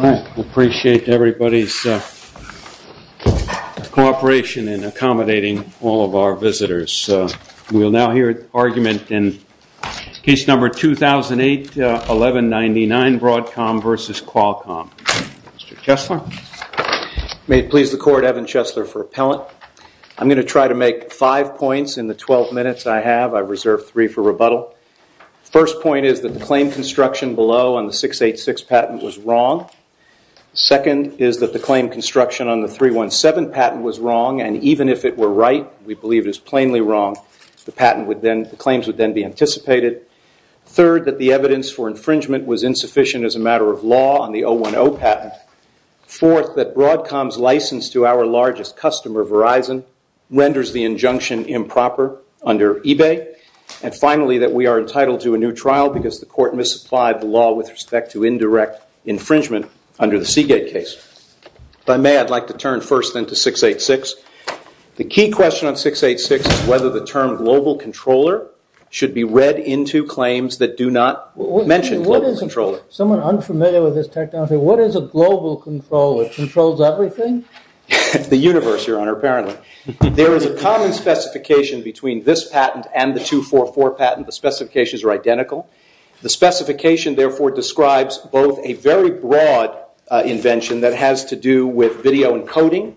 I appreciate everybody's cooperation in accommodating all of our visitors. We will now hear argument in case number 2008-1199 Broadcom v. Qualcomm. Mr. Chesler. May it please the court, Evan Chesler for appellant. I'm going to try to make five points in the 12 minutes I have. I've reserved three for rebuttal. First point is that the claim construction below on the 686 patent was wrong. Second is that the claim construction on the 317 patent was wrong and even if it were right, we believe it is plainly wrong, the claims would then be anticipated. Third, that the evidence for infringement was insufficient as a matter of law on the 010 patent. Fourth, that Broadcom's license to our largest customer, Verizon, renders the injunction improper under eBay. And finally, that we are entitled to a new trial because the court misapplied the law with respect to indirect infringement under the Seagate case. If I may, I'd like to turn first then to 686. The key question on 686 is whether the term global controller should be read into claims that do not mention global controller. Someone unfamiliar with this technology, what is a global controller? It controls everything? The universe, your honor, apparently. There is a common specification between this patent and the 244 patent. The specifications are identical. The specification, therefore, describes both a very broad invention that has to do with video encoding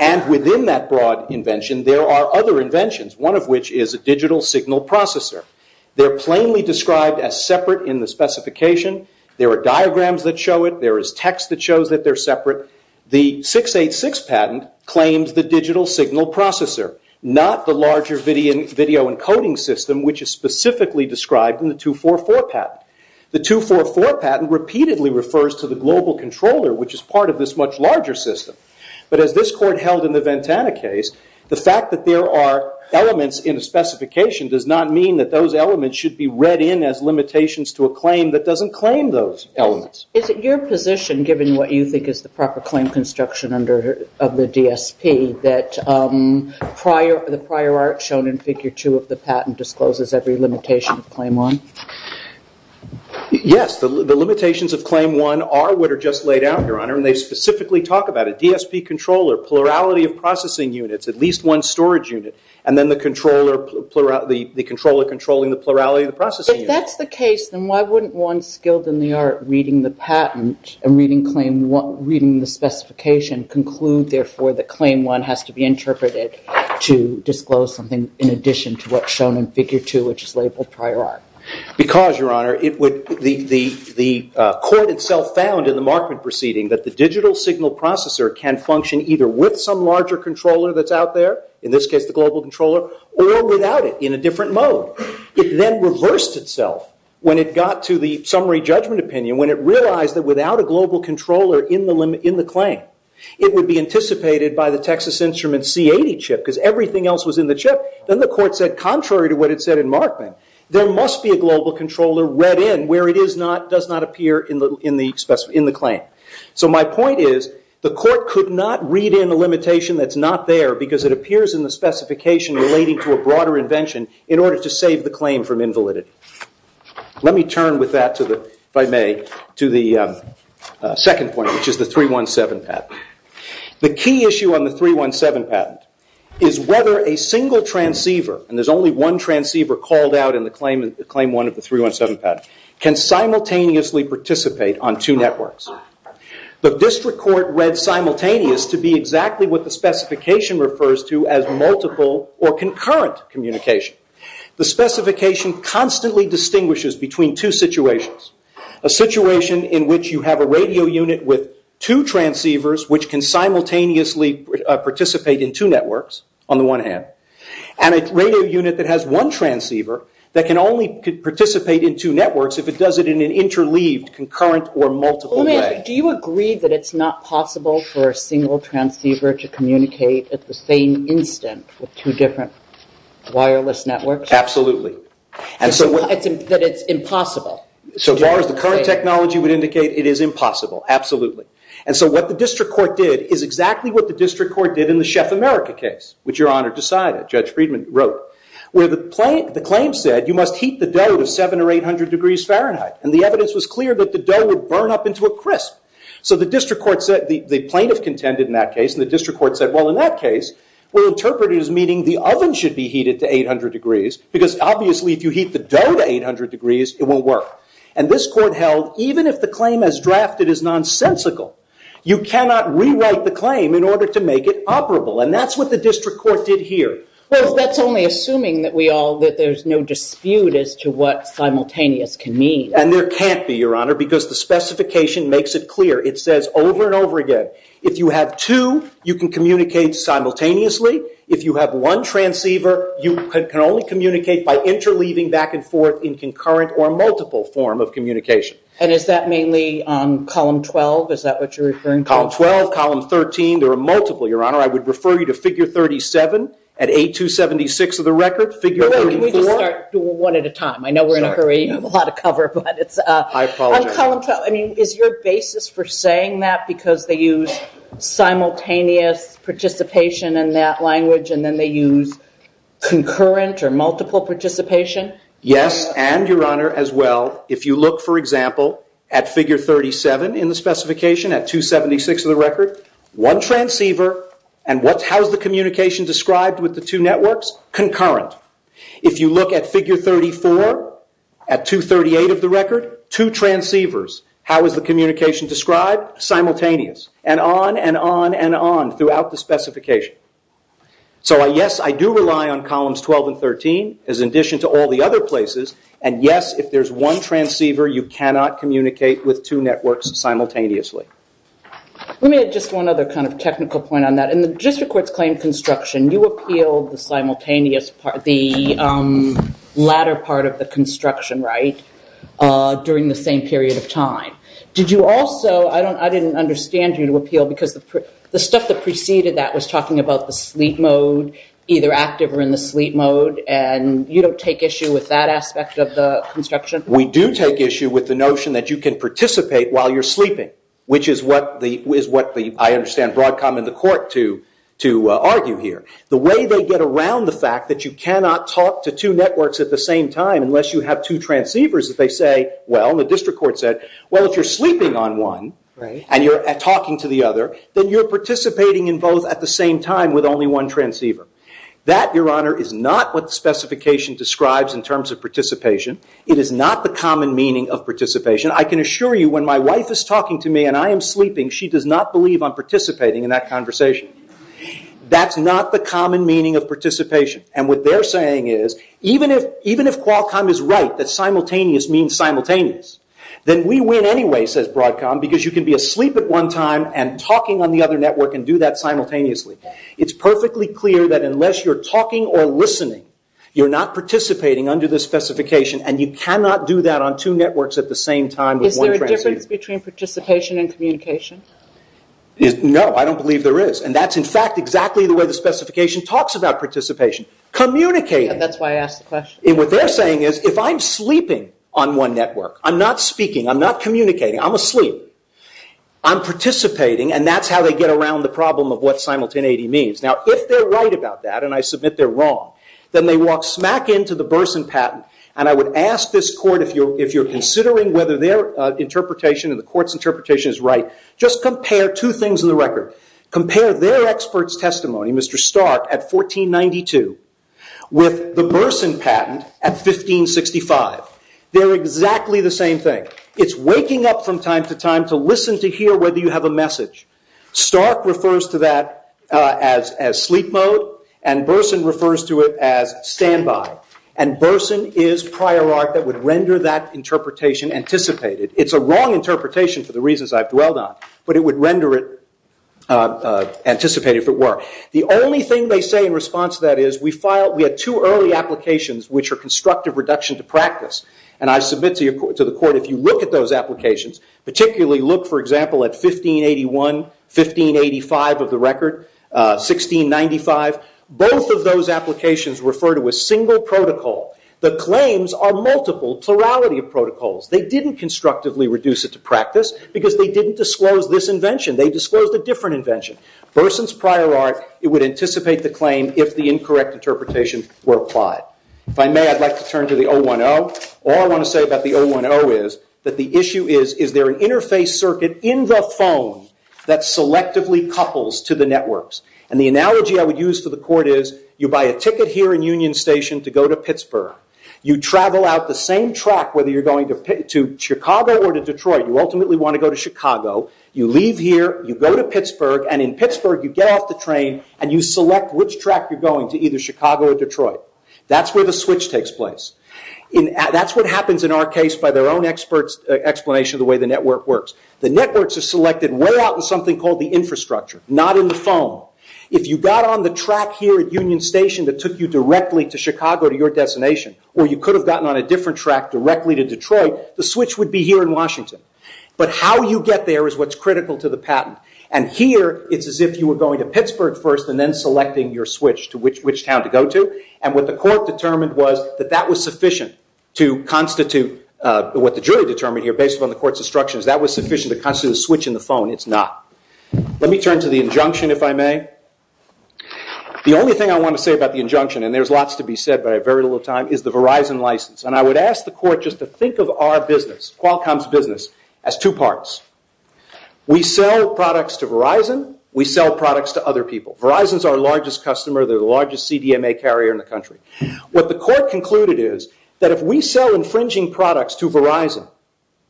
and within that broad invention, there are other inventions. One of which is a digital signal processor. They are plainly described as separate in the specification. There are diagrams that show it. There is text that shows that they are separate. However, the 686 patent claims the digital signal processor, not the larger video encoding system, which is specifically described in the 244 patent. The 244 patent repeatedly refers to the global controller, which is part of this much larger system. But as this court held in the Ventana case, the fact that there are elements in the specification does not mean that those elements should be read in as limitations to a claim that doesn't claim those elements. Is it your position, given what you think is the proper claim construction of the DSP, that the prior art shown in Figure 2 of the patent discloses every limitation of Claim 1? Yes, the limitations of Claim 1 are what are just laid out, your honor, and they specifically talk about it. DSP controller, plurality of processing units, at least one storage unit, and then the controller controlling the plurality of the processing units. If that's the case, then why wouldn't one skilled in the art reading the patent and reading the specification conclude, therefore, that Claim 1 has to be interpreted to disclose something in addition to what's shown in Figure 2, which is labeled prior art? Because, your honor, the court itself found in the Markman proceeding that the digital signal processor can function either with some larger controller that's out there, in this case the global controller, or without it in a different mode. It then reversed itself when it got to the summary judgment opinion, when it realized that without a global controller in the claim, it would be anticipated by the Texas Instruments C80 chip, because everything else was in the chip. Then the court said, contrary to what it said in Markman, there must be a global controller read in where it does not appear in the claim. My point is, the court could not read in a limitation that's not there because it appears in the specification relating to a broader invention in order to save the claim from invalidity. Let me turn with that, if I may, to the second point, which is the 317 patent. The key issue on the 317 patent is whether a single transceiver, and there's only one transceiver called out in the Claim 1 of the 317 patent, can simultaneously participate on two networks. The district court read simultaneous to be exactly what the specification refers to as multiple or concurrent communication. The specification constantly distinguishes between two situations. A situation in which you have a radio unit with two transceivers which can simultaneously participate in two networks on the one hand, and a radio unit that has one transceiver that can only participate in two networks if it does it in an interleaved, concurrent, or multiple way. Do you agree that it's not possible for a single transceiver to communicate at the same instant with two different wireless networks? Absolutely. That it's impossible? So far as the current technology would indicate, it is impossible. Absolutely. And so what the district court did is exactly what the district court did in the Chef America case, which Your Honor decided, Judge Friedman wrote, where the claim said you must heat the dough to 700 or 800 degrees Fahrenheit. And the evidence was clear that the dough would burn up into a crisp. So the plaintiff contended in that case, and the district court said, well, in that case, we'll interpret it as meaning the oven should be heated to 800 degrees. Because obviously, if you heat the dough to 800 degrees, it won't work. And this court held, even if the claim as drafted is nonsensical, you cannot rewrite the claim in order to make it operable. And that's what the district court did here. Well, that's only assuming that there's no dispute as to what simultaneous can mean. And there can't be, Your Honor, because the specification makes it clear. It says over and over again, if you have two, you can communicate simultaneously. If you have one transceiver, you can only communicate by interleaving back and forth in concurrent or multiple form of communication. And is that mainly column 12? Is that what you're referring to? Column 12, column 13. There are multiple, Your Honor. I would refer you to figure 37 at 8276 of the record, figure 34. Wait. Let me just start one at a time. I know we're in a hurry. You have a lot of cover. But it's a column 12. I apologize. I mean, is your basis for saying that because they use simultaneous participation in that language, and then they use concurrent or multiple participation? Yes, and, Your Honor, as well, if you look, for example, at figure 37 in the specification at 276 of the record, one transceiver, and how is the communication described with the two networks? Concurrent. If you look at figure 34 at 238 of the record, two transceivers. How is the communication described? Simultaneous. And on and on and on throughout the specification. So, yes, I do rely on columns 12 and 13, as in addition to all the other places. And, yes, if there's one transceiver, you cannot communicate with two networks simultaneously. Let me add just one other kind of technical point on that. In the district court's claim construction, you appealed the latter part of the construction right during the same period of time. Did you also, I didn't understand you to appeal because the stuff that preceded that was talking about the sleep mode, either active or in the sleep mode, and you don't take issue with that aspect of the construction? We do take issue with the notion that you can participate while you're sleeping, which is what I understand Broadcom and the court to argue here. The way they get around the fact that you cannot talk to two networks at the same time unless you have two transceivers, that they say, well, the district court said, well, if you're sleeping on one and you're talking to the other, then you're participating in both at the same time with only one transceiver. That, Your Honor, is not what the specification describes in terms of participation. It is not the common meaning of participation. I can assure you when my wife is talking to me and I am sleeping, she does not believe I'm participating in that conversation. That's not the common meaning of participation. What they're saying is, even if Qualcomm is right that simultaneous means simultaneous, then we win anyway, says Broadcom, because you can be asleep at one time and talking on the other network and do that simultaneously. It's perfectly clear that unless you're talking or listening, you're not participating under the specification and you cannot do that on two networks at the same time with one transceiver. Is there a difference between participation and communication? No, I don't believe there is. And that's, in fact, exactly the way the specification talks about participation. Communicating. That's why I asked the question. What they're saying is, if I'm sleeping on one network, I'm not speaking, I'm not communicating, I'm asleep, I'm participating, and that's how they get around the problem of what simultaneity means. Now, if they're right about that and I submit they're wrong, then they walk smack into the Burson patent. And I would ask this court, if you're considering whether their interpretation and the court's interpretation is right, just compare two things in the record. Compare their expert's testimony, Mr. Stark, at 1492 with the Burson patent at 1565. They're exactly the same thing. It's waking up from time to time to listen to hear whether you have a message. Stark refers to that as sleep mode, and Burson refers to it as standby. And Burson is prior art that would render that interpretation anticipated. It's a wrong interpretation for the reasons I've dwelled on, but it would render it anticipated if it were. The only thing they say in response to that is, we had two early applications, which are constructive reduction to practice, and I submit to the court, if you look at those applications, particularly look, for example, at 1581, 1585 of the record, 1695, both of those applications refer to a single protocol. The claims are multiple, plurality of protocols. They didn't constructively reduce it to practice because they didn't disclose this invention. They disclosed a different invention. Burson's prior art, it would anticipate the claim if the incorrect interpretations were applied. If I may, I'd like to turn to the 010. All I want to say about the 010 is that the issue is, is there an interface circuit in the phone that selectively couples to the networks? And the analogy I would use for the court is, you buy a ticket here in Union Station to go to Pittsburgh. You travel out the same track, whether you're going to Chicago or to Detroit. You ultimately want to go to Chicago. You leave here. You go to Pittsburgh, and in Pittsburgh, you get off the train, and you select which track you're going to, either Chicago or Detroit. That's where the switch takes place. That's what happens in our case by their own explanation of the way the network works. The networks are selected way out in something called the infrastructure, not in the phone. If you got on the track here at Union Station that took you directly to Chicago, to your destination, or you could have gotten on a different track directly to Detroit, the switch would be here in Washington. But how you get there is what's critical to the patent. And here, it's as if you were going to Pittsburgh first and then selecting your switch to which town to go to. And what the court determined was that that was sufficient to constitute what the jury determined here, based upon the court's instructions, that was sufficient to constitute a switch in the phone. It's not. Let me turn to the injunction, if I may. The only thing I want to say about the injunction, and there's lots to be said, but I have very little time, is the Verizon license. And I would ask the court just to think of our business, Qualcomm's business, as two parts. We sell products to Verizon. We sell products to other people. Verizon's our largest customer. They're the largest CDMA carrier in the country. What the court concluded is that if we sell infringing products to Verizon,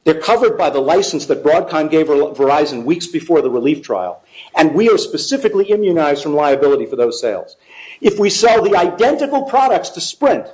they're covered by the license that Broadcom gave Verizon weeks before the relief trial, and we are specifically immunized from liability for those sales. If we sell the identical products to Sprint,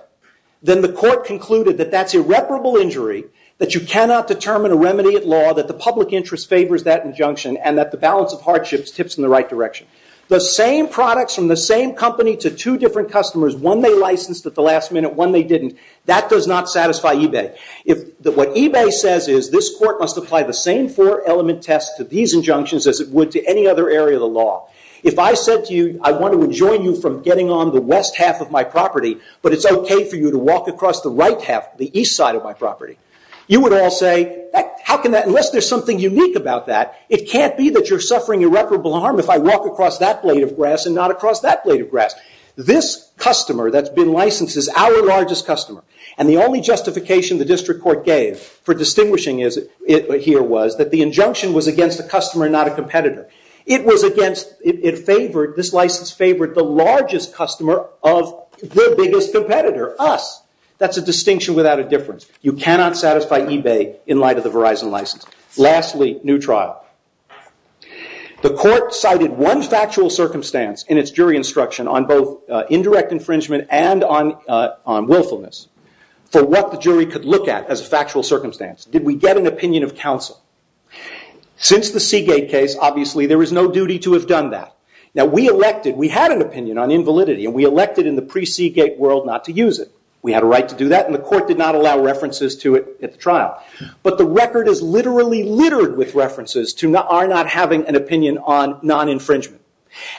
then the court concluded that that's irreparable injury, that you cannot determine a remedy at law, that the public interest favors that injunction, and that the balance of hardships tips in the right direction. The same products from the same company to two different customers, one they licensed at the last minute, one they didn't, that does not satisfy eBay. What eBay says is this court must apply the same four-element test to these injunctions as it would to any other area of the law. If I said to you, I want to enjoin you from getting on the west half of my property, but it's okay for you to walk across the east side of my property, you would all say, unless there's something unique about that, it can't be that you're suffering irreparable harm if I walk across that blade of grass and not across that blade of grass. This customer that's been licensed is our largest customer, and the only justification the district court gave for distinguishing here was that the injunction was against a customer and not a competitor. This license favored the largest customer of the biggest competitor, us. That's a distinction without a difference. You cannot satisfy eBay in light of the Verizon license. Lastly, new trial. The court cited one factual circumstance in its jury instruction on both indirect infringement and on willfulness for what the jury could look at as a factual circumstance. Did we get an opinion of counsel? Since the Seagate case, obviously there is no duty to have done that. We had an opinion on invalidity, and we elected in the pre-Seagate world not to use it. We had a right to do that, and the court did not allow references to it at the trial. The record is literally littered with references to our not having an opinion on non-infringement.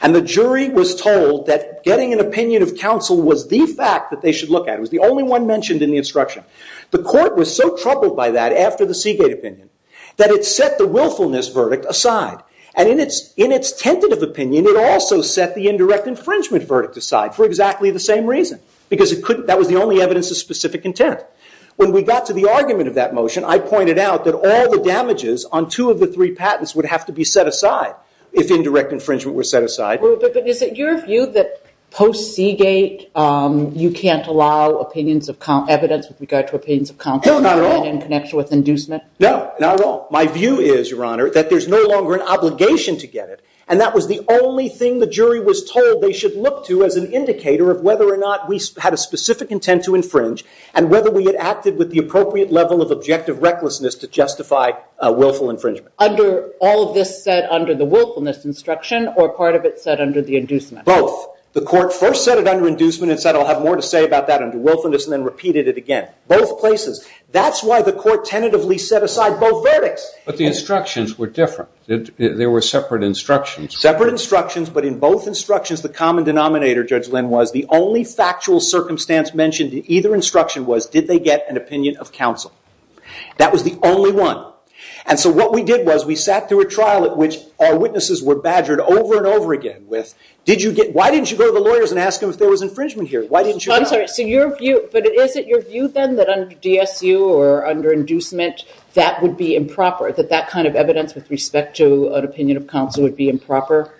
The jury was told that getting an opinion of counsel was the fact that they should look at. It was the only one mentioned in the instruction. The court was so troubled by that after the Seagate opinion, that it set the willfulness verdict aside. In its tentative opinion, it also set the indirect infringement verdict aside for exactly the same reason, because that was the only evidence of specific intent. When we got to the argument of that motion, I pointed out that all the damages on two of the three patents would have to be set aside if indirect infringement were set aside. Is it your view that post-Seagate, you can't allow evidence with regard to opinions of counsel in connection with inducement? No, not at all. My view is, Your Honor, that there's no longer an obligation to get it, and that was the only thing the jury was told they should look to as an indicator of whether or not we had a specific intent to infringe, and whether we had acted with the appropriate level of objective recklessness to justify a willful infringement. Under all of this said under the willfulness instruction, or part of it said under the inducement? Both. The court first set it under inducement and said, I'll have more to say about that under willfulness, and then repeated it again. Both places. That's why the court tentatively set aside both verdicts. But the instructions were different. They were separate instructions. Separate instructions, but in both instructions, the common denominator, Judge Lynn, was the only factual circumstance mentioned in either instruction was, did they get an opinion of counsel? That was the only one. And so what we did was we sat through a trial at which our witnesses were badgered over and over again with, why didn't you go to the lawyers and ask them if there was infringement here? But is it your view then that under DSU or under inducement, that would be improper? That that kind of evidence with respect to an opinion of counsel would be improper?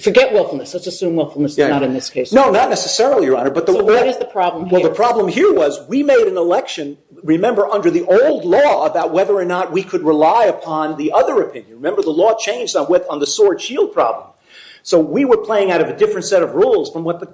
Forget willfulness. Let's assume willfulness is not in this case. No, not necessarily, Your Honor. So what is the problem here? Well, the problem here was we made an election, remember, under the old law about whether or not we could rely upon the other opinion. Remember, the law changed on the sword shield problem. So we were playing out of a different set of rules from what the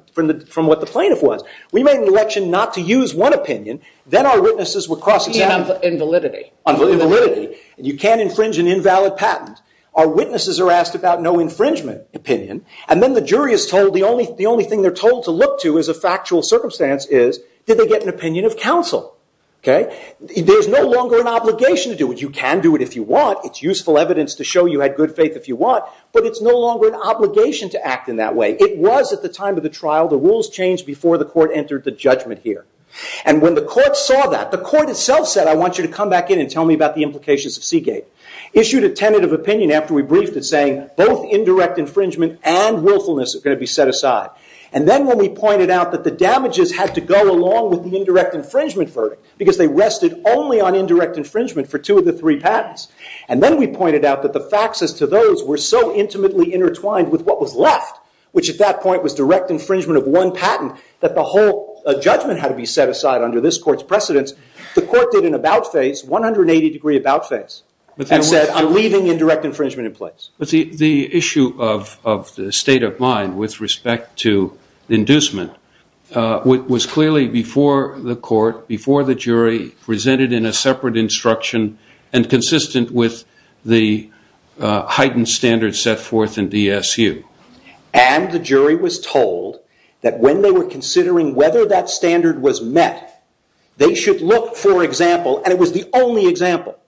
plaintiff was. We made an election not to use one opinion. Then our witnesses were cross-examined. Invalidity. Invalidity. You can't infringe an invalid patent. Our witnesses are asked about no infringement opinion. And then the jury is told the only thing they're told to look to as a factual circumstance is, did they get an opinion of counsel? There's no longer an obligation to do it. You can do it if you want. It's useful evidence to show you had good faith if you want. But it's no longer an obligation to act in that way. It was at the time of the trial, the rules changed before the court entered the judgment here. And when the court saw that, the court itself said, I want you to come back in and tell me about the implications of Seagate. Issued a tentative opinion after we briefed it saying, both indirect infringement and willfulness are going to be set aside. And then when we pointed out that the damages had to go along with the indirect infringement verdict, because they rested only on indirect infringement for two of the three patents. And then we pointed out that the facts as to those were so intimately intertwined with what was left, which at that point was direct infringement of one patent, that the whole judgment had to be set aside under this court's precedence. The court did an about face, 180 degree about face, and said, I'm leaving indirect infringement in place. But the issue of the state of mind with respect to inducement was clearly before the court, before the jury, presented in a separate instruction, and consistent with the heightened standards set forth in DSU. And the jury was told that when they were considering whether that standard was met, they should look for example, and it was the only example,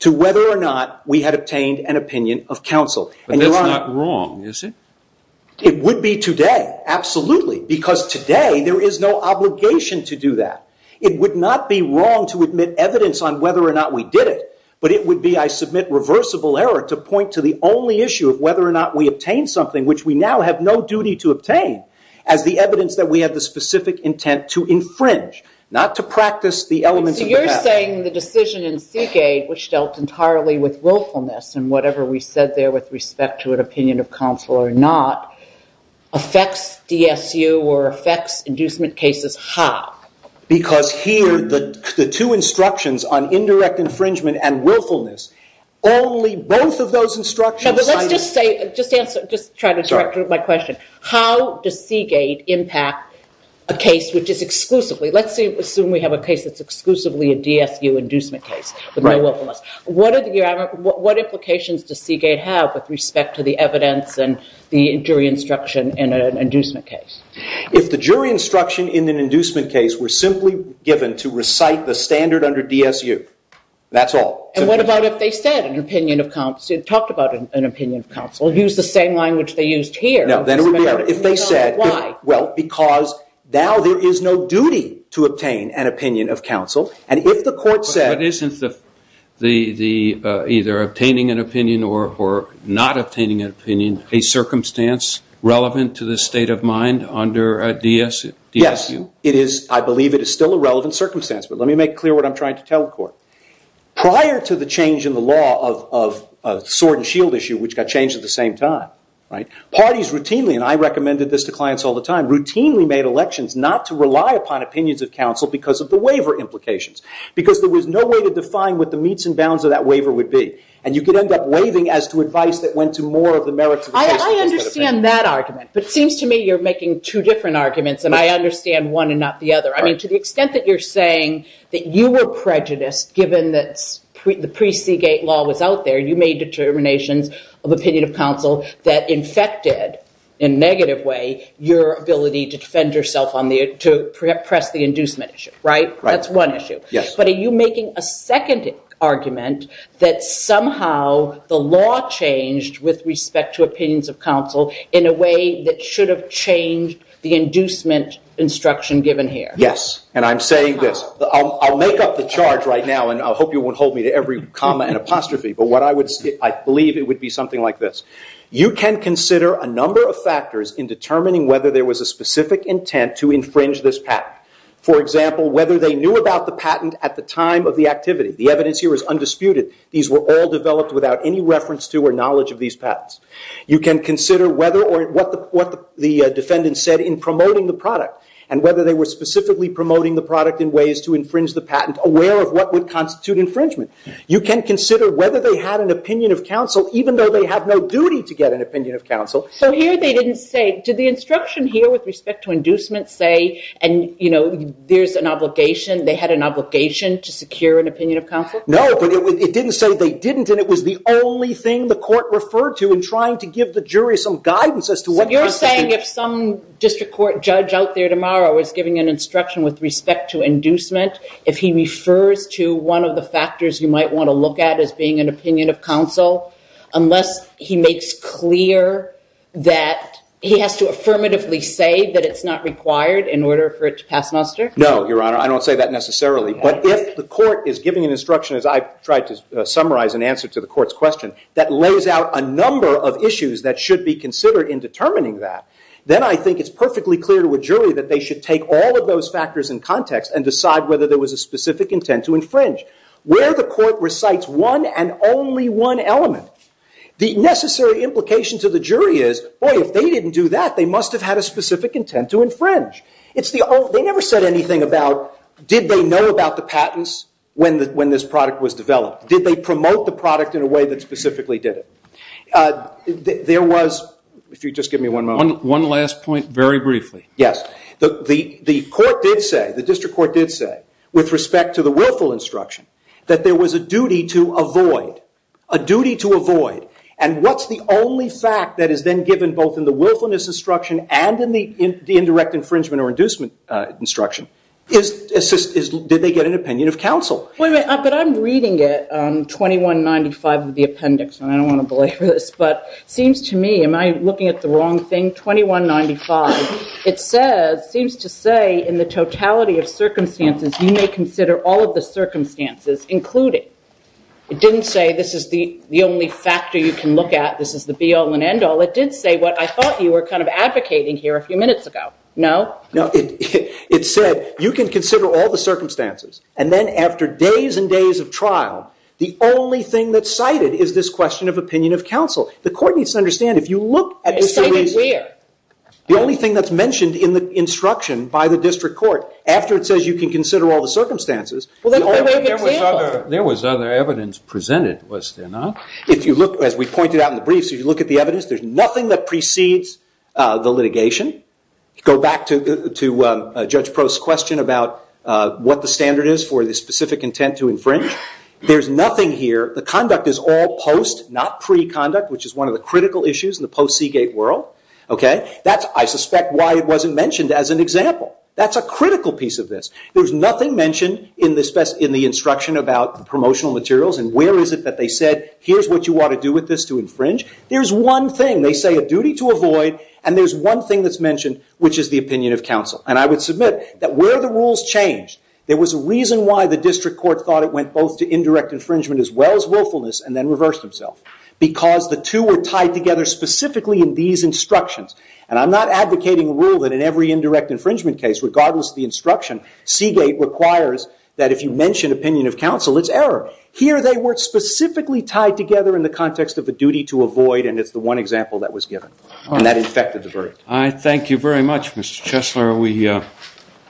to whether or not we had obtained an opinion of counsel. But that's not wrong, is it? It would be today, absolutely, because today there is no obligation to do that. It would not be wrong to admit evidence on whether or not we did it, but it would be, I submit, reversible error to point to the only issue of whether or not we obtained something, which we now have no duty to obtain, as the evidence that we had the specific intent to infringe, not to practice the elements of the patent. So you're saying the decision in Seagate, which dealt entirely with willfulness, and whatever we said there with respect to an opinion of counsel or not, affects DSU or affects inducement cases how? Because here, the two instructions on indirect infringement and willfulness, only both of those instructions... Let's just say, just try to direct my question. How does Seagate impact a case which is exclusively, let's assume we have a case that's exclusively a DSU inducement case with no willfulness. What implications does Seagate have with respect to the evidence and the jury instruction in an inducement case? If the jury instruction in an inducement case were simply given to recite the standard under DSU, that's all. And what about if they said an opinion of counsel, talked about an opinion of counsel, used the same language they used here? No, then it would be... Why? Well, because now there is no duty to obtain an opinion of counsel, and if the court said... But isn't either obtaining an opinion or not obtaining an opinion a circumstance relevant to the state of mind under DSU? Yes, it is. I believe it is still a relevant circumstance, but let me make clear what I'm trying to tell the court. Prior to the change in the law of sword and shield issue, which got changed at the same time, parties routinely, and I recommended this to clients all the time, routinely made elections not to rely upon opinions of counsel because of the waiver implications, because there was no way to define what the meets and bounds of that waiver would be, and you could end up waiving as to advice that went to more of the merits... I understand that argument, but it seems to me you're making two different arguments, and I understand one and not the other. I mean, to the extent that you're saying that you were prejudiced given that the pre-Seagate law was out there, you made determinations of opinion of counsel that infected, in a negative way, your ability to defend yourself on the... to press the inducement issue, right? Right. That's one issue. Yes. But are you making a second argument that somehow the law changed with respect to opinions of counsel in a way that should have changed the inducement instruction given here? Yes. And I'm saying this. I'll make up the charge right now, and I hope you won't hold me to every comma and apostrophe, but what I would... I believe it would be something like this. You can consider a number of factors in determining whether there was a specific intent to infringe this patent. For example, whether they knew about the patent at the time of the activity. The evidence here is undisputed. These were all developed without any reference to or knowledge of these patents. You can consider whether or... what the defendant said in promoting the product, and whether they were specifically promoting the product in ways to infringe the patent, aware of what would constitute infringement. You can consider whether they had an opinion of counsel, even though they have no duty to get an opinion of counsel. So here they didn't say... did the instruction here with respect to inducement say, and, you know, there's an obligation... they had an obligation to secure an opinion of counsel? No, but it didn't say they didn't, and it was the only thing the court referred to in trying to give the jury some guidance as to what constitutes... So you're saying if some district court judge out there tomorrow is giving an instruction with respect to inducement, if he refers to one of the factors you might want to look at as being an opinion of counsel, unless he makes clear that he has to affirmatively say that it's not required in order for it to pass muster? No, Your Honor. I don't say that necessarily. But if the court is giving an instruction, as I tried to summarize in answer to the court's question, that lays out a number of issues that should be considered in determining that, then I think it's perfectly clear to a jury that they should take all of those factors in context and decide whether there was a specific intent to infringe. Where the court recites one and only one element, the necessary implication to the jury is, boy, if they didn't do that, they must have had a specific intent to infringe. They never said anything about did they know about the patents when this product was developed. Did they promote the product in a way that specifically did it? There was... If you'd just give me one moment. One last point, very briefly. Yes. The court did say, the district court did say, with respect to the willful instruction, that there was a duty to avoid. A duty to avoid. And what's the only fact that is then given both in the willfulness instruction and in the indirect infringement or inducement instruction? Did they get an opinion of counsel? But I'm reading it, 2195 of the appendix, and I don't want to belabor this, but it seems to me, am I looking at the wrong thing? 2195, it says, seems to say, in the totality of circumstances, you may consider all of the circumstances, including. It didn't say this is the only factor you can look at, this is the be-all and end-all. It did say what I thought you were kind of advocating here a few minutes ago. No? No. It said, you can consider all the circumstances, and then after days and days of trial, the only thing that's cited is this question of opinion of counsel. The court needs to understand, if you look at this series, the only thing that's mentioned in the instruction by the district court, after it says you can consider all the circumstances, the only way to get a sample. There was other evidence presented, was there not? If you look, as we pointed out in the briefs, if you look at the evidence, there's nothing that precedes the litigation. Go back to Judge Prost's question about what the standard is for the specific intent to infringe. There's nothing here. The conduct is all post, not pre-conduct, which is one of the critical issues in the post-Seagate world. I suspect why it wasn't mentioned as an example. That's a critical piece of this. There's nothing mentioned in the instruction about promotional materials, and where is it that they said, here's what you want to do with this to infringe. There's one thing. They say a duty to avoid, and there's one thing that's mentioned, which is the opinion of counsel. And I would submit that where the rules changed, there was a reason why the district court thought it went both to indirect infringement as well as willfulness, and then reversed himself. Because the two were tied together specifically in these instructions. And I'm not advocating a rule that in every indirect infringement case, regardless of the instruction, Seagate requires that if you mention opinion of counsel, it's error. Here they were specifically tied together in the context of a duty to avoid, and it's the one example that was given. And that infected the verdict. I thank you very much, Mr. Chesler.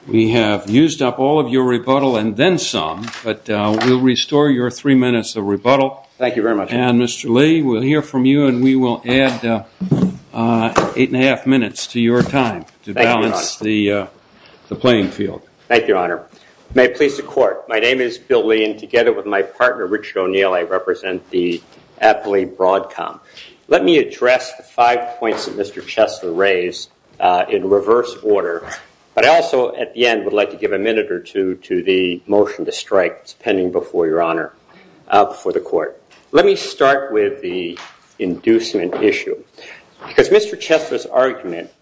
We have used up all of your rebuttal and then some, but we'll restore your three minutes of rebuttal. Thank you very much. And Mr. Lee, we'll hear from you and we will add eight and a half minutes to your time to balance the playing field. Thank you, Your Honor. May it please the court. My name is Bill Lee and together with my partner, Richard O'Neill, I represent the Appley Broadcom. Let me address the five points that Mr. Chesler raised in reverse order, but I also, at the end, would like to give a minute or two to the motion to strike. It's pending before Your Honor, before the court. Let me start with the inducement issue because Mr. Chesler's argument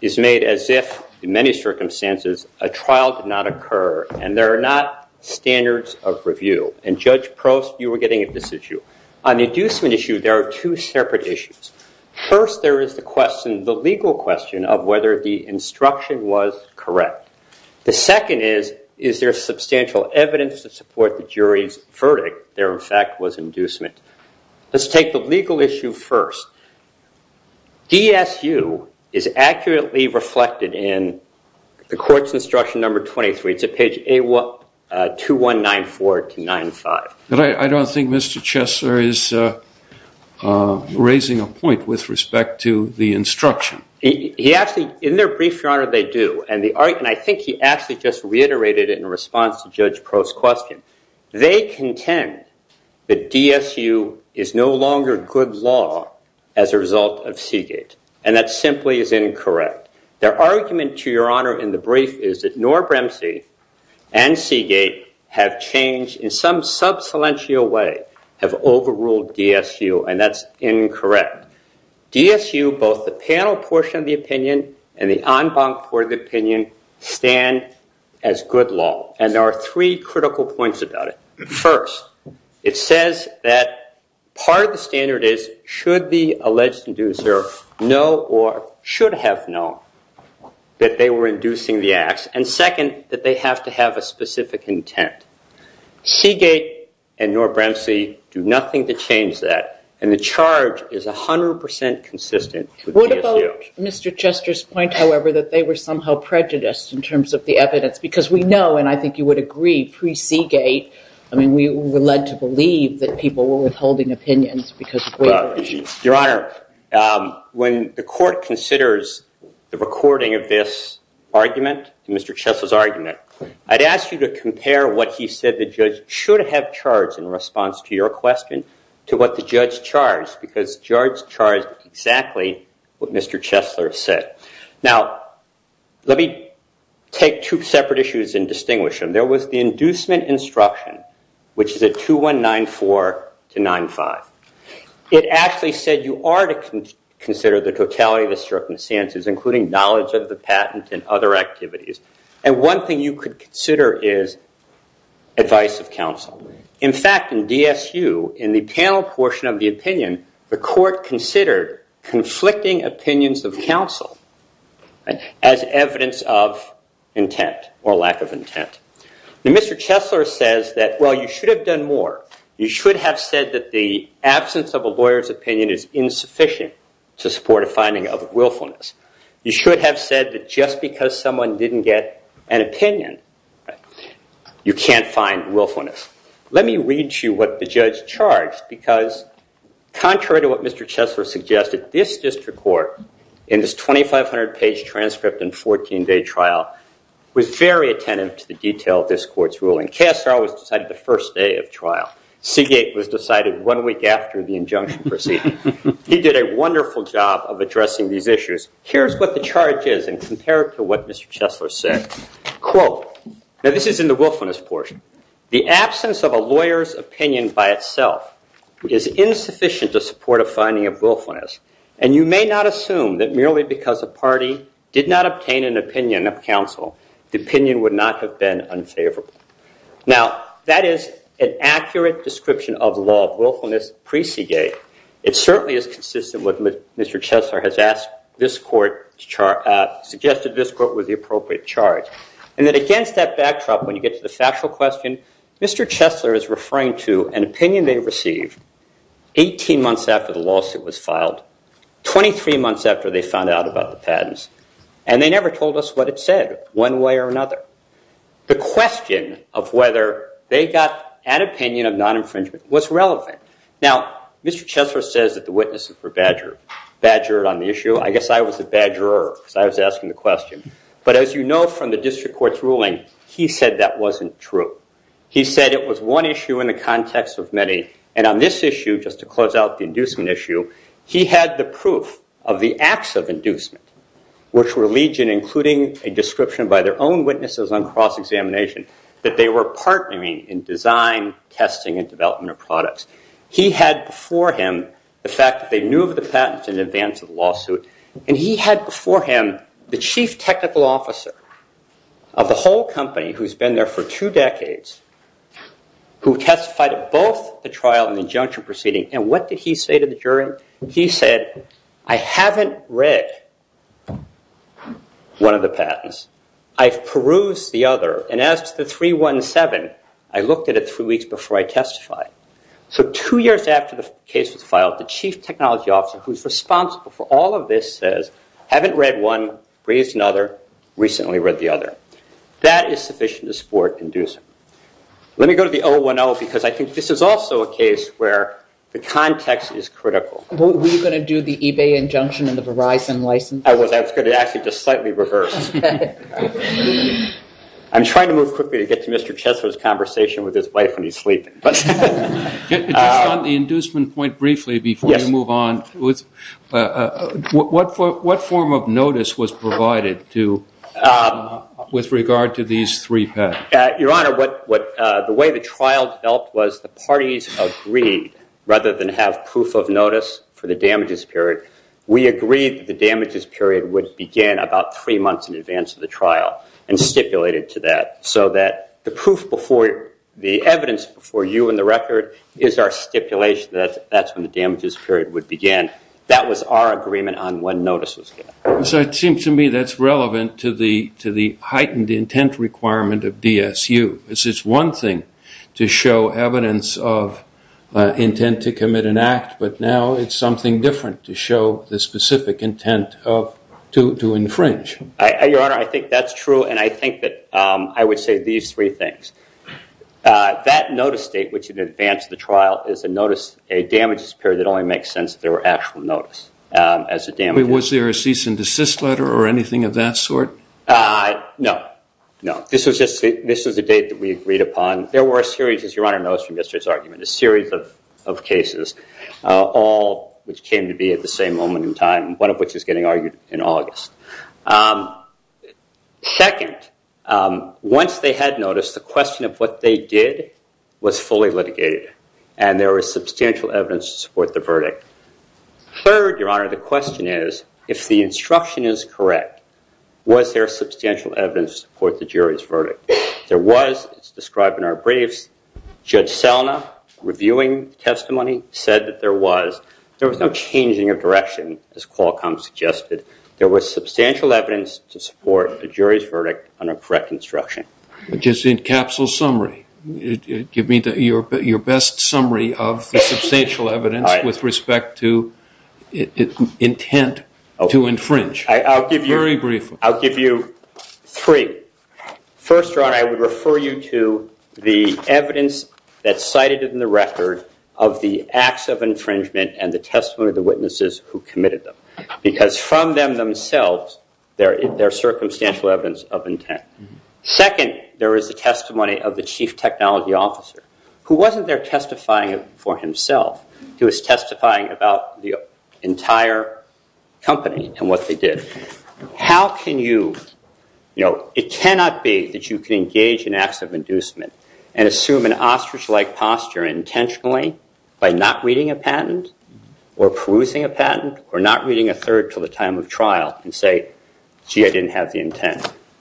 is made as if, in many circumstances, a trial did not occur and there are not standards of review. And Judge Prost, you were getting at this issue. On the inducement issue, there are two separate issues. First, there is the question, the legal question, of whether the instruction was correct. The second is, is there substantial evidence to support the jury's verdict? There, in fact, was inducement. Let's take the legal issue first. DSU is accurately reflected in the court's instruction number 23. It's at page 2194-295. I don't think Mr. Chesler is raising a point with respect to the instruction. He actually, in their brief, Your Honor, they do. And I think he actually just reiterated it in response to Judge Prost's question. They contend that DSU is no longer good law as a result of Seagate. And that simply is incorrect. Their argument, to Your Honor, in the brief is that nor Bremsey and Seagate have changed in some substantial way, have overruled DSU, and that's incorrect. DSU, both the panel portion of the opinion and the en banc portion of the opinion, stand as good law. And there are three critical points about it. First, it says that part of the standard is, should the alleged inducer know or should have known that they were inducing the acts? And second, that they have to have a specific intent. Seagate and nor Bremsey do nothing to change that. And the charge is 100% consistent with DSU. What about Mr. Chester's point, however, that they were somehow prejudiced in terms of the evidence? Because we know, and I think you would agree, pre-Seagate, I mean, we were led to believe that people were withholding opinions because of waiver issues. Your Honor, when the court considers the recording of this argument, Mr. Chester's argument, I'd ask you to compare what he said the judge should have charged in response to your question to what the judge charged, because the judge charged exactly what Mr. Chester said. Now, let me take two separate issues and distinguish them. There was the inducement instruction, which is at 2194-95. It actually said you are to consider the totality of the circumstances, including knowledge of the patent and other activities. And one thing you could consider is advice of counsel. In fact, in DSU, in the panel portion of the opinion, the court considered conflicting opinions of counsel as evidence of intent or lack of intent. Now, Mr. Chester says that, well, you should have done more. You should have said that the absence of a lawyer's opinion is insufficient to support a finding of willfulness. You should have said that just because someone didn't get an opinion you can't find willfulness. Let me read you what the judge charged because contrary to what Mr. Chester suggested, this district court in this 2,500-page transcript and 14-day trial was very attentive to the detail of this court's ruling. KSR was decided the first day of trial. Seagate was decided one week after the injunction proceeding. He did a wonderful job of addressing these issues. Here's what the charge is and compare it to what Mr. Chester said. Quote, and this is in the willfulness portion, the absence of a lawyer's opinion by itself is insufficient to support a finding of willfulness and you may not assume that merely because a party did not obtain an opinion of counsel, the opinion would not have been unfavorable. Now, that is an accurate description of law of willfulness pre-Seagate. It certainly is consistent with what Mr. Chester has asked this court to charge, suggested this court with the appropriate charge and that against that backdrop when you get to the factual question, Mr. Chester is referring to an opinion they received 18 months after the lawsuit was filed, 23 months after they found out about the patents and they never told us what it said one way or another. The question of whether they got an opinion of non-infringement was relevant. Now, Mr. Chester says that the witnesses were badgered on the issue. I guess I was the badgerer because I was asking the question. But as you know from the district court's ruling, he said that wasn't true. He said it was one issue in the context of many and on this issue, just to close out the inducement issue, he had the proof of the acts of inducement which were legion including a description by their own witnesses that they were partnering in design, testing, and development of products. He had before him the fact that they knew of the patents in advance of the lawsuit and he had before him the chief technical officer of the whole company who's been there for two decades who testified at both the trial and injunction proceeding and what did he say to the jury? He said, I haven't read one of the patents. I've perused the other and as to the 317, I looked at it three weeks before I testified. So two years after the case was filed, the chief technology officer who's responsible for all of this says, haven't read one, perused another, recently read the other. That is sufficient to support inducement. Let me go to the 010 because I think this is also a case where the context is critical. Were you going to do the eBay injunction and the Verizon license? I was. I was going to actually just slightly reverse. I'm trying to move quickly to get to Mr. Chesler's conversation with his wife when he's sleeping. Just on the inducement point briefly before you move on, what form of notice was provided to with regard to these three patents? Your Honor, the way the trial felt was the parties agreed rather than have proof of notice for the damages period. We agreed the damages period would begin about three months in advance of the trial and stipulated to that so that the proof before the evidence before you and the record is our stipulation that that's when the damages period would begin. That was our agreement on when notice was given. So it seems to me that's relevant to the heightened intent requirement of DSU. It's just one thing to show evidence of intent to commit an act but now it's something different to show the specific intent of to infringe. Your Honor, I think that's true and I think that I would say these three things. That notice date which in advance of the trial was given was the date that we agreed upon. There were a series of cases all which came to be at the same moment in time one of which is getting argued in August. Second, once they had noticed the question of what they did was fully litigated and there was substantial evidence to support the verdict. Third, Your Honor, the question is if the instruction is correct, was there substantial evidence to support the jury's verdict? There was described in our briefs Judge Selna reviewing testimony said that there was no changing of direction as Qualcomm suggested. There was substantial evidence to support the jury's verdict under correct instruction. Your best summary of the substantial evidence with respect to intent to infringe. Very brief. I'll give you three. First, Your Honor, I would refer you to the evidence that's cited in the record of the acts of infringement and the testimony of the witnesses who committed them because from them themselves, there is circumstantial evidence of intent. Second, there is the testimony of the chief technology officer who wasn't there testifying for himself. He was testifying about the fact that chief technology officer was not there testifying for himself.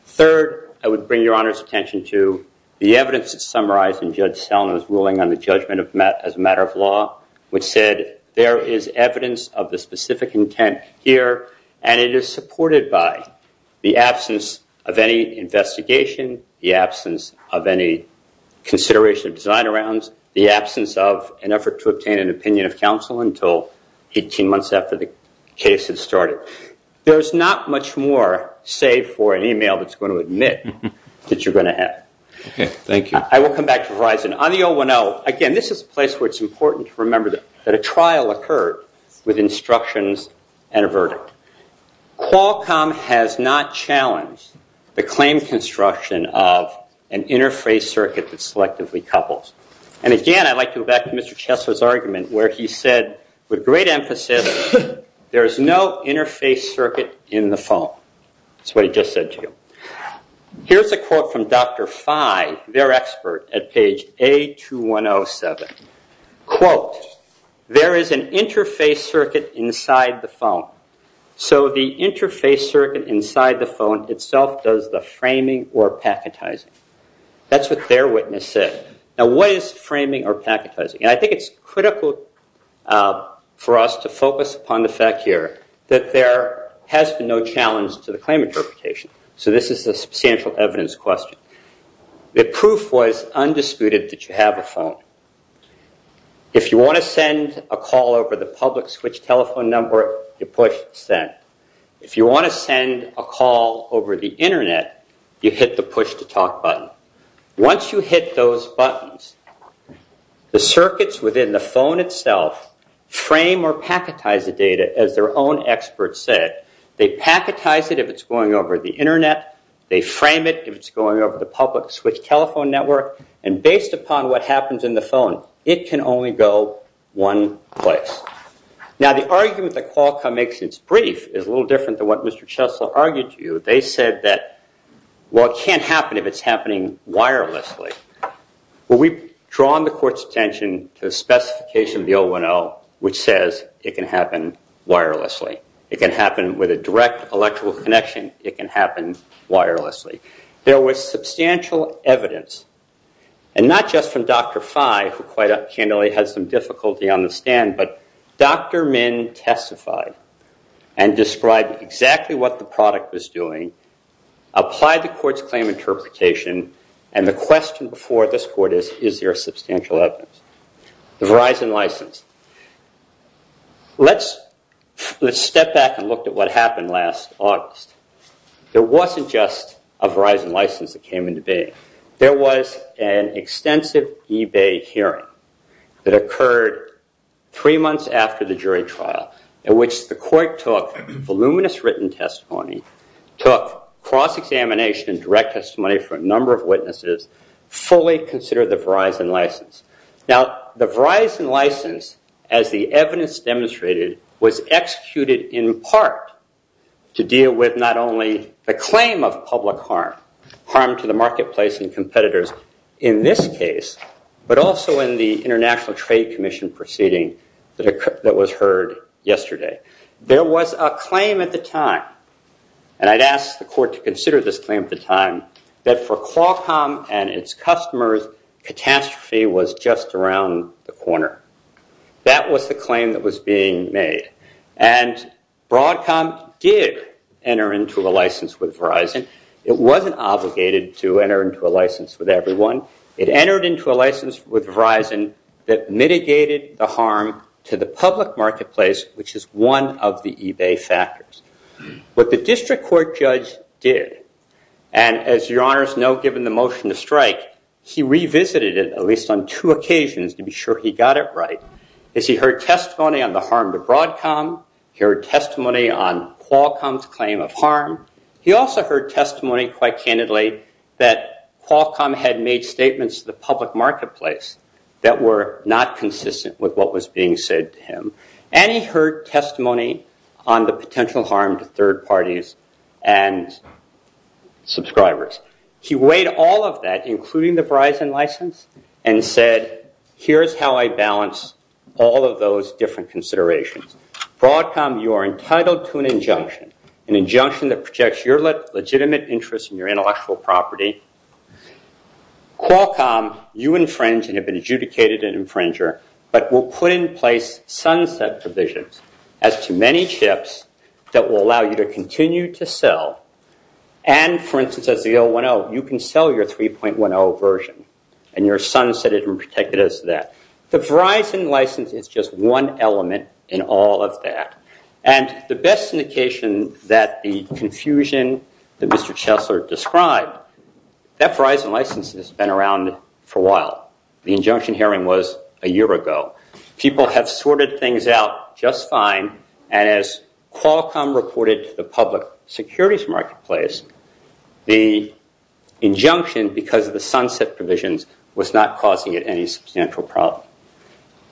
Third, I would bring your attention to the evidence that's summarized in the judgment as a matter of law, which said there is evidence of the absence of an effort to obtain an opinion of counsel until 18 months after the case had started. There's not much more save for an email that's going to admit that you're going to have. Again, this is a place where it's important to remember that a trial occurred with instructions and a set of rules. And again, I'd like to go back to Mr. Chessler's argument where he said with great emphasis, there's no interface circuit in the phone. That's what he just said to you. Here's a quote from Dr. Fye, their expert at page A2107. Quote, there is an interface circuit inside the phone. So what is framing or packetizing? I think it's critical for us to focus upon the fact here that there has been no challenge to the claim interpretation. The proof was undisputed that you have a phone. If you want to send a call over the public switch telephone network, you push send. If you want to send a call over the Internet, you hit the push to talk button. Once you hit those buttons, the circuits within the phone itself frame or packetize the data as their own experts said. They packetize it if it's going over the Internet, they frame it if it's going over the public switch telephone network, and based upon what happens in the phone, it can only go one place. Now, the argument that Qualcomm makes in its brief is a little different. They said it can't happen if it's happening wirelessly. We've drawn the court's attention to the specification of the 010 which says it can happen wirelessly. It can happen with a direct electrical connection, it can happen wirelessly. There was substantial evidence, and not just from Dr. Phi who had some difficulty on the stand, but Dr. Min testified and described exactly what the product was doing, applied the court's claim interpretation, and the question before this court is, is there substantial evidence? The Verizon license. Let's step back and look at what happened last August. There wasn't just a Verizon license that came into being. There was an extensive eBay hearing that occurred three months after the jury trial in which the court took written testimony, took cross examination for a number of witnesses, fully considered the Verizon license. Now, the Verizon license, as the evidence demonstrated, was executed in part to deal with not only the claim of public harm, harm to the marketplace and competitors in this case, but also in the international trade commission proceeding that was heard yesterday. There was a claim at the time, and I'd ask the court to consider this claim at the time, that for Qualcomm and its customers, catastrophe was just around the corner. That was the claim that was being made. And Broadcom did enter into a license with Verizon. It wasn't obligated to enter into a license with everyone. It entered into a license with Verizon that mitigated the harm to the public marketplace, which is one of the eBay factors. What the district court judge did, and as your honors know, given the motion to strike, he revisited it on two occasions to be sure he got it right. He heard testimony on Qualcomm's claim of harm. He also heard testimony quite candidly that Qualcomm had made statements to the public marketplace that were not consistent with what was being said to him. And he heard testimony on the potential harm to third parties and subscribers. He weighed all of that, including the Verizon license, and said here's how I look at those different considerations. Qualcomm, you are entitled to an injunction that projects your legitimate interest in your intellectual property. Qualcomm, you infringe and have been adjudicated an infringer, but will put in place sunset provisions as to many chips that will allow you to continue to sell. And for instance, you can sell your 3.10 version. The Verizon license is just one element in all of that. And the best indication that the confusion that Mr. Chessler described, that Verizon license has been around for a while. The injunction hearing was a year ago. People have reported to the public securities marketplace the injunction because of the sunset provisions was not causing it any substantial problem.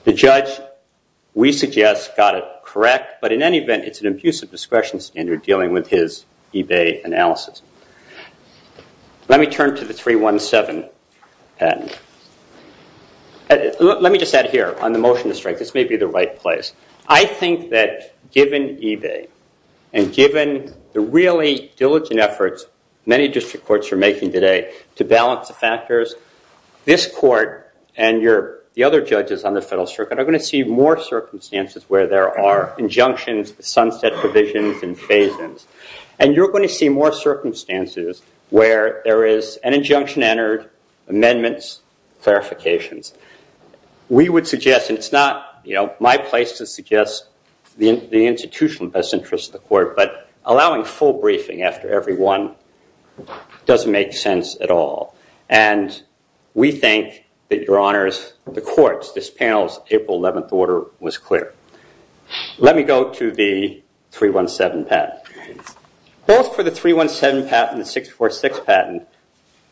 The judge, we suggest, got it correct, but in any event, it's an abusive discretion standard dealing with his eBay analysis. Let me turn to the 3.17 patent. Let me just add here on the motion to strike. This may be the right place. I think that given eBay and given the really diligent efforts many district courts are making today to balance the factors, this court and the other judges on the federal circuit are going to see more circumstances where there are injunctions, sunset provisions, and phasings. And you're going to see more circumstances where there is an injunction entered, amendments, clarifications. We would have the institutional best interest of the court, but allowing full briefing after every one doesn't make sense at all. And we think that your honors, the courts, this panel's April 11th order was clear. Let me go to the 317 patent. Both for the 317 patent and the 646 patent,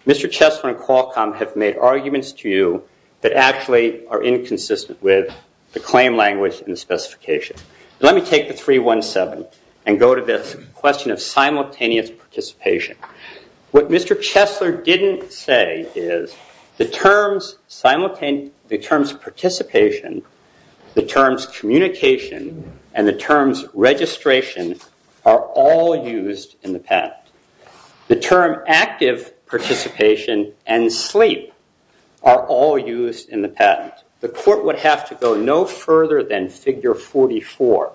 Mr. Chesler and Qualcomm have made arguments to you that are inconsistent with the claim language and specification. Let me take the 317 and go to simultaneous participation. What Mr. Chesler didn't say is the terms participation, the terms communication, and the terms registration are all used in the patent. The term active participation and sleep are all used in the patent. The court would have to go no further than figure 44,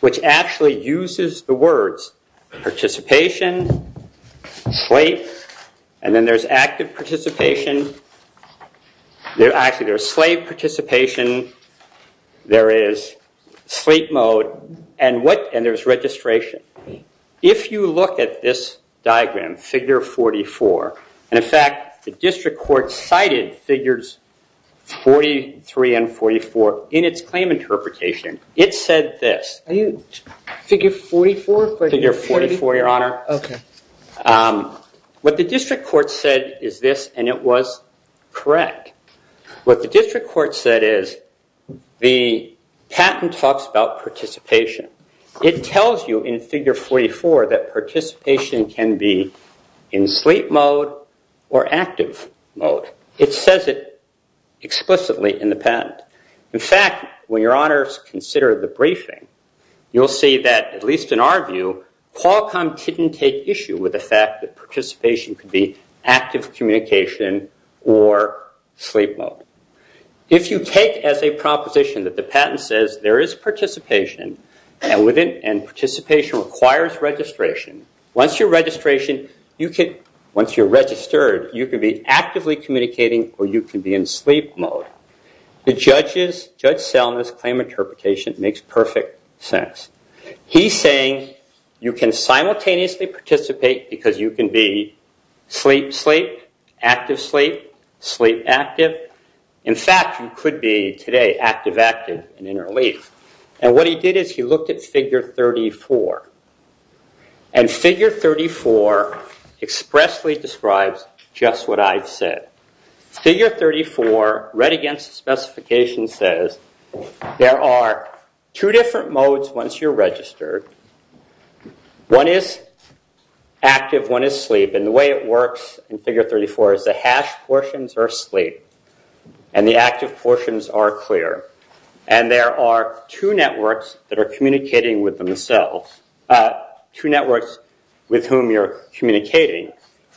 which actually uses the words participation, sleep, and then there's active participation, actually there's slave participation, there is sleep mode, and there's registration. If you look at this diagram, figure 44, and in fact the district court cited figures 43 and 44 in its claim interpretation, it said this. Figure 44, your honor. What the district court said is this, and it was correct. What the district court said is the patent talks about participation. It tells you in figure 44 that participation can be in sleep mode or active mode. It says it explicitly in the patent. In fact, when your honors consider the briefing, you'll see that at least in our view, Qualcomm didn't take issue with the fact that participation could be active communication or sleep mode. If you take as a proposition that the patent says there is participation and participation requires registration, once you're registered, you can be active or sleep active. It makes perfect sense. He's saying you can simultaneously participate because you can be sleep sleep, active sleep, sleep active. In fact, you could be active active today. He looked at figure 34, and figure 34 expressly describes just what I've said. Figure 34 read against the specification says there are two different modes once you're registered. One is active, one is sleep, and the way it works in figure 34 is the hash portions are sleep, and the active portions are clear. And there are two networks that are communicating with themselves. Two networks with whom you're communicating,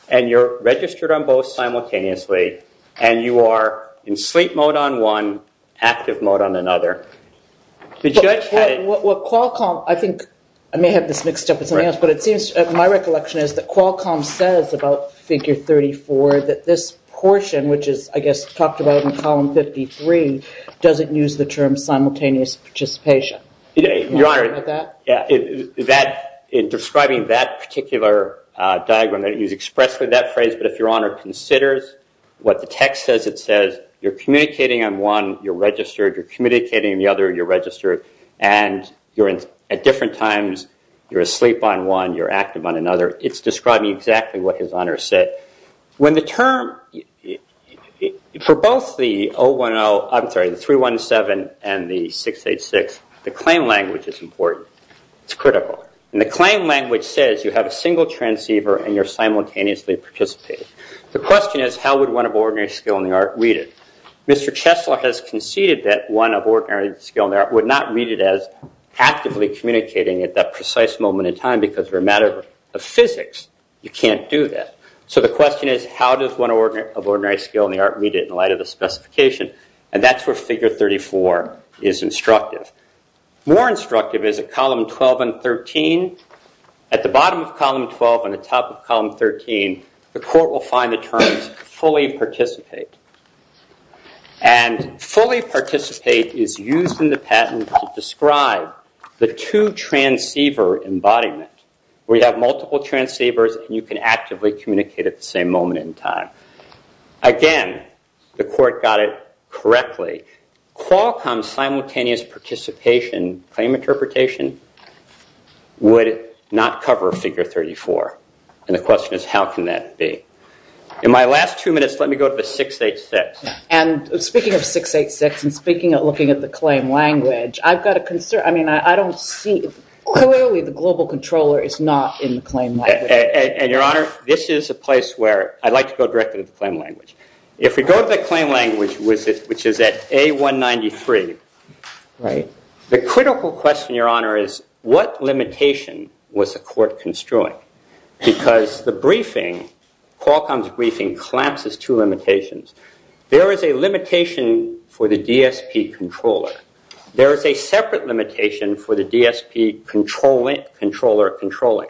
and you're registered on both simultaneously, and you are in sleep mode on one, active mode on another. The judge had it. My recollection is that Qualcomm says about figure 34 that this portion, which is I guess talked about in column 53, doesn't use the term simultaneous participation. Your Honor, in describing that particular diagram, I didn't use expressly that phrase, but if your Honor considers what the text says, it says you're communicating on one, you're registered, you're communicating on the other, you're registered, and at different times you're asleep on one, you're active on another. It's describing exactly what his Honor said. For both the 317 and the 686, the claim language is important. It's critical. The claim language says you have a single transceiver and you're simultaneously participating. The question is how would one of ordinary skill in the art read it? Mr. Chesler has conceded that one of ordinary skill in the art would not read it as actively communicating at that precise moment in time because we're a matter of physics, you can't do that. So the question is how does one of ordinary skill in the art read it? That's where figure 34 is instructive. More instructive is at column 12 and 13. At the bottom of column 12 and top of column 13, the court will find the terms fully participate. Fully participate is used in the patent to describe the two transceivers and you can actively communicate at the same moment in time. Again, the court got it correctly. Qualcomm simultaneous participation claim interpretation would not cover figure 34 and the question is how can that be? In my last two minutes, let me go to 686. Speaking of 686 and looking at the claim language, I don't see, clearly the global controller is not in the claim language. Your Honor, this is a place where I like to go directly to the claim language. If we go to the claim language, which is at A193, the critical question, Your Honor, is what the court construing? Because the briefing, Qualcomm's briefing, collapses two limitations. There is a limitation for the DSP controller. There is a separate limitation for the DSP controller controlling.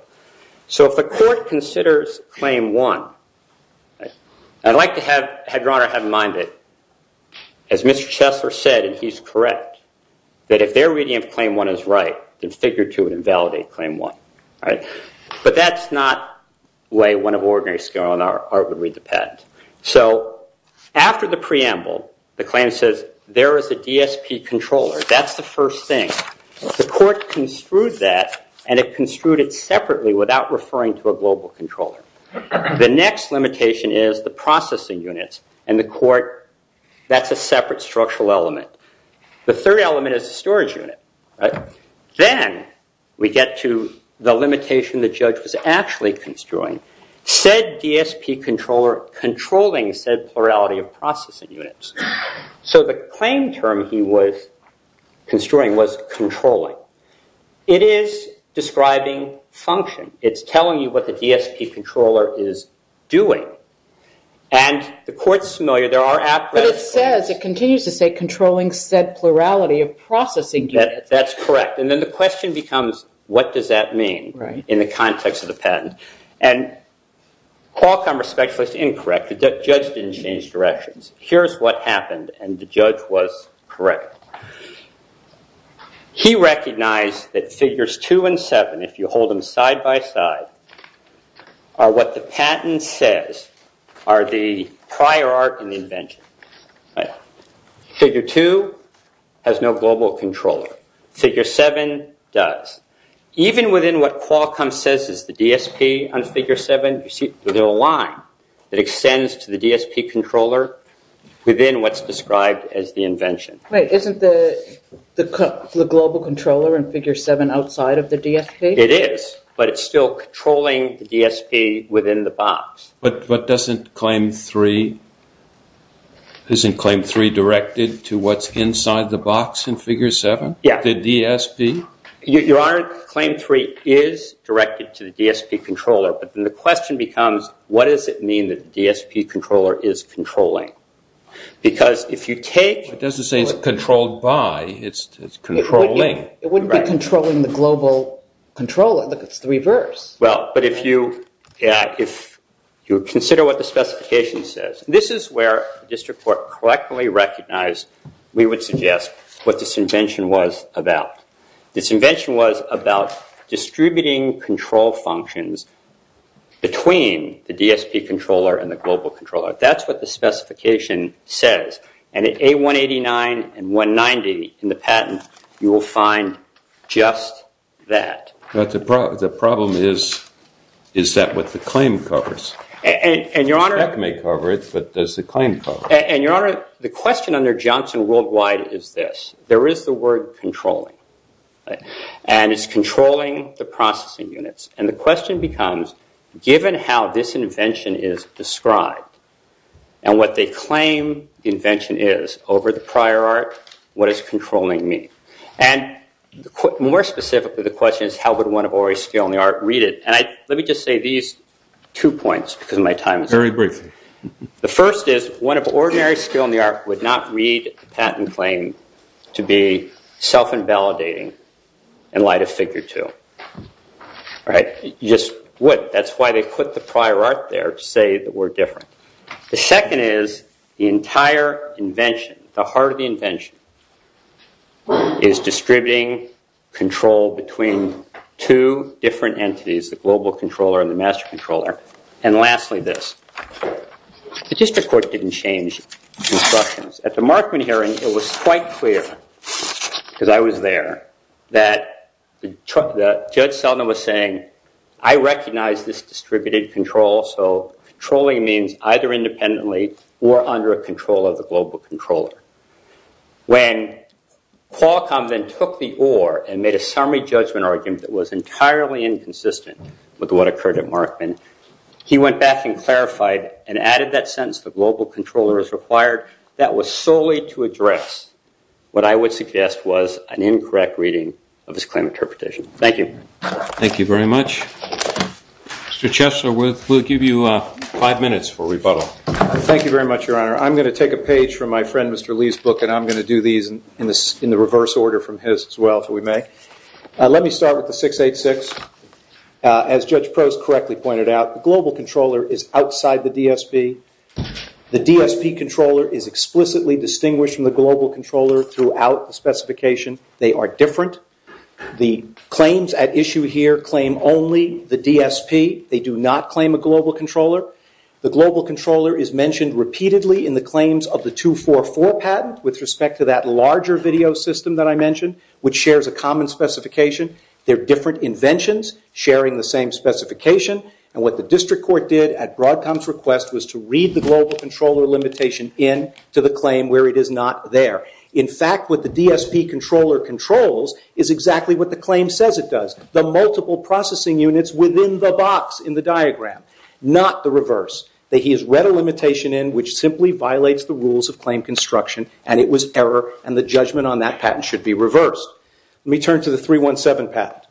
If the court considers claim one, I would like to have your Honor have in mind that as Mr. Chessler said, if their claim one is right, figure two would invalidate claim one. After the preamble, the claim says there is a DSP controller. That's the first thing. The court construed that, and it construed it separately without referring to a global controller. The next limitation is the processing units, and the court, that's a separate structural element. The third element is the storage unit. Then we get to the limitation the judge was actually construing. Said DSP controller controlling said plurality of processing units. So the claim term he was construing was controlling. It is describing function. It's telling you what the DSP controller is doing, and the court is familiar. There are apparatus. But it continues to say controlling said plurality of processing units. That's correct. Then the question becomes what does that mean in the context of the patent. Qualcomm was incorrect. The judge didn't change directions. Here's what happened, and the judge was correct. He recognized that figures two and seven, if you hold them side by side, are what the patent says are the prior art and invention. Figure two has no global controller. Figure seven does. Even within what Qualcomm says is the DSP on figure seven, there's a line that extends to the DSP controller within what's described as the invention. Isn't the global controller in figure seven outside of the DSP? It is, but it's still controlling the DSP within the box. But doesn't claim three directed to what's inside the box in figure seven, the DSP? Your Honor, claim three is directed to the DSP controller, but then the question becomes what does it mean that the DSP controller is controlling? It doesn't say it's controlled by, it's controlling. It wouldn't be controlling the DSP controller. It's the reverse. If you consider what the specification says, this is where the district court recognized what this invention was about. It was about distributing control functions between the DSP controller and the global controller. That's what the specification says. And at A189 and 190 in the patent, you will find just that. But the problem is, is that what the claim covers? And your Honor, the question under Johnson worldwide is this. There is the word controlling. And it's controlling the processing units. And the question becomes given how this invention is described and what they claim the invention is over the prior art, what is controlling me? And more specifically, the question is how would one read it? Let me say these two points. The first is one of ordinary skill in the art would not read the patent claim to be self-invalidating in light of figure two. You just would. That's why they put the prior art there to say we're different. The second is the entire invention, the heart of the is distributing control between two different entities. And lastly this. The district court didn't change instructions. At the Markman the district didn't change this control. So controlling means either independently or under a control of the global controller. When Paul took the oar and made a summary judgment argument that was entirely inconsistent with what occurred at Markman, he went back and added that sentence that was solely to address what I would suggest was an incorrect reading of his claim interpretation. Thank you. Thank you very much. Mr. Chessler, we'll give you five minutes for rebuttal. Thank you very much. I'm going to take a page from my friend Mr. Lee's book. Let me start with the 686. As Judge Post correctly pointed out, the global controller is outside the DSP. The DSP controller is explicitly distinguished from the global controller throughout the specification. They are different. The claims at issue here claim only the DSP. They do not claim a global controller. The global controller is mentioned repeatedly in the claims of the 244 patent with respect to that larger video system that I mentioned which shares a common specification. They are different inventions sharing the same principle. They are multiple processing units within the box in the diagram, not the reverse. He has read a limitation which simply violates the rules of claim construction and it was error. Let me turn to the first paragraph.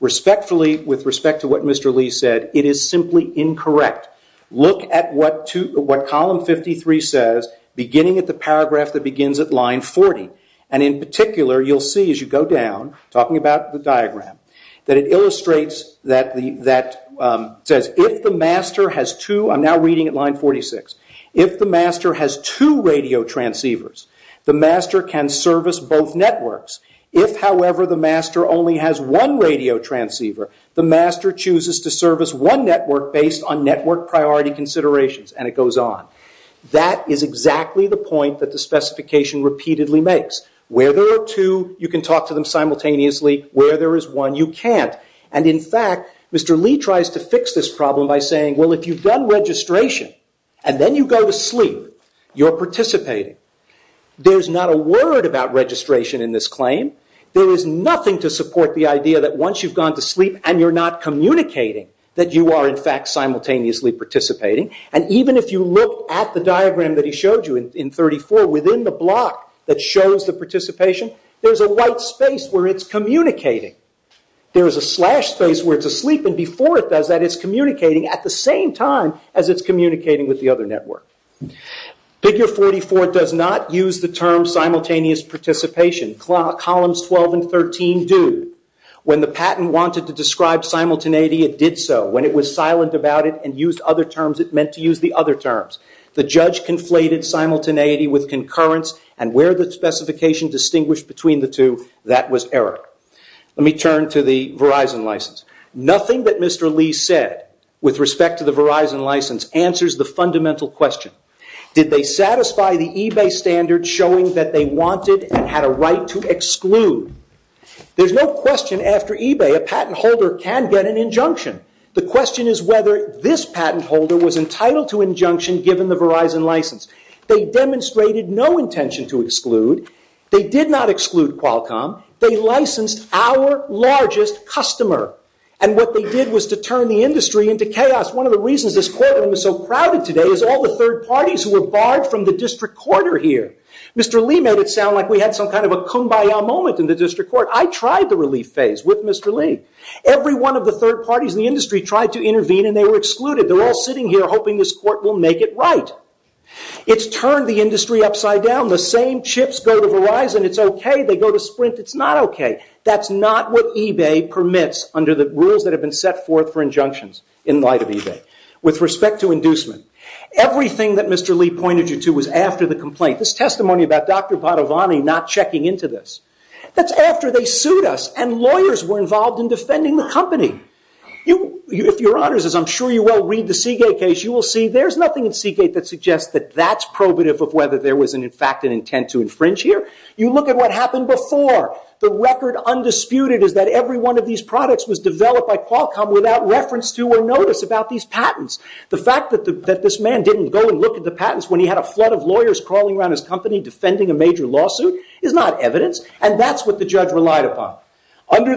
Respectfully, with respect to what Mr. Lee said, it is simply incorrect. Look at what column 53 says beginning at the paragraph that begins at line 40. In particular, you will see as you go down talking about the first paragraph, the master chooses to serve as one network based on network priority considerations and it goes on. That is exactly the point that the specification repeatedly makes. Where there are two you can talk to them simultaneously. Where there is one you can't. In fact, Mr. Lee tries to fix this problem by saying if you have done registration and then you go to sleep you are participating. There is not a word about registration in this claim. There is nothing to support the idea that once you have gone to sleep and you are not communicating that you are simultaneously participating. Even if you look at the diagram within the block that shows the participation there is a white space where it is communicating. There is a slash space where it is not communicating. The question that we get with respect to the Verizon license answers the fundamental question. Did they satisfy the eBay standard showing that they wanted and had a right to exclude? There is no question after eBay a patent holder can get an injunction. The company licensed our largest customer. What they did was turn the industry into chaos. One of the reasons this courtroom is so crowded today is all the third parties barred from the district court. I tried the relief phase with Mr. Lee. Every one of the third parties tried to intervene. It has turned the industry upside down. The same chips go to Verizon. That is not what eBay permits. Everything that Mr. Lee pointed you to was after the complaint. This testimony about Dr. Padovani not checking into this. Lawyers were involved in defending the company. You will see there is nothing that suggests that is probative. You look at what happened before. The fact that he had a flood of lawyers defending a major is not evidence. That is what the judge relied upon. That is not the law. That is what the district judge relied upon. I apologize for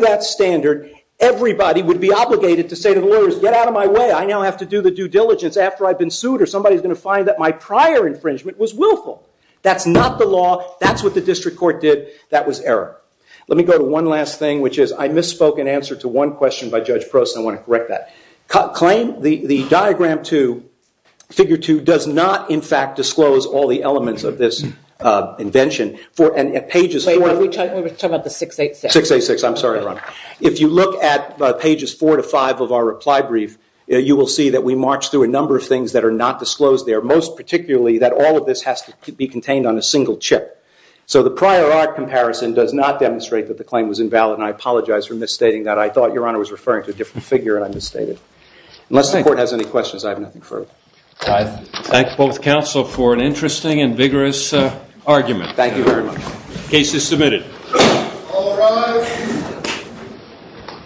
misstating that. I thought you were referring to a different figure. Unless the court has any questions, I have nothing further. I thank both counsel for their interesting and vigorous argument. The case is submitted. All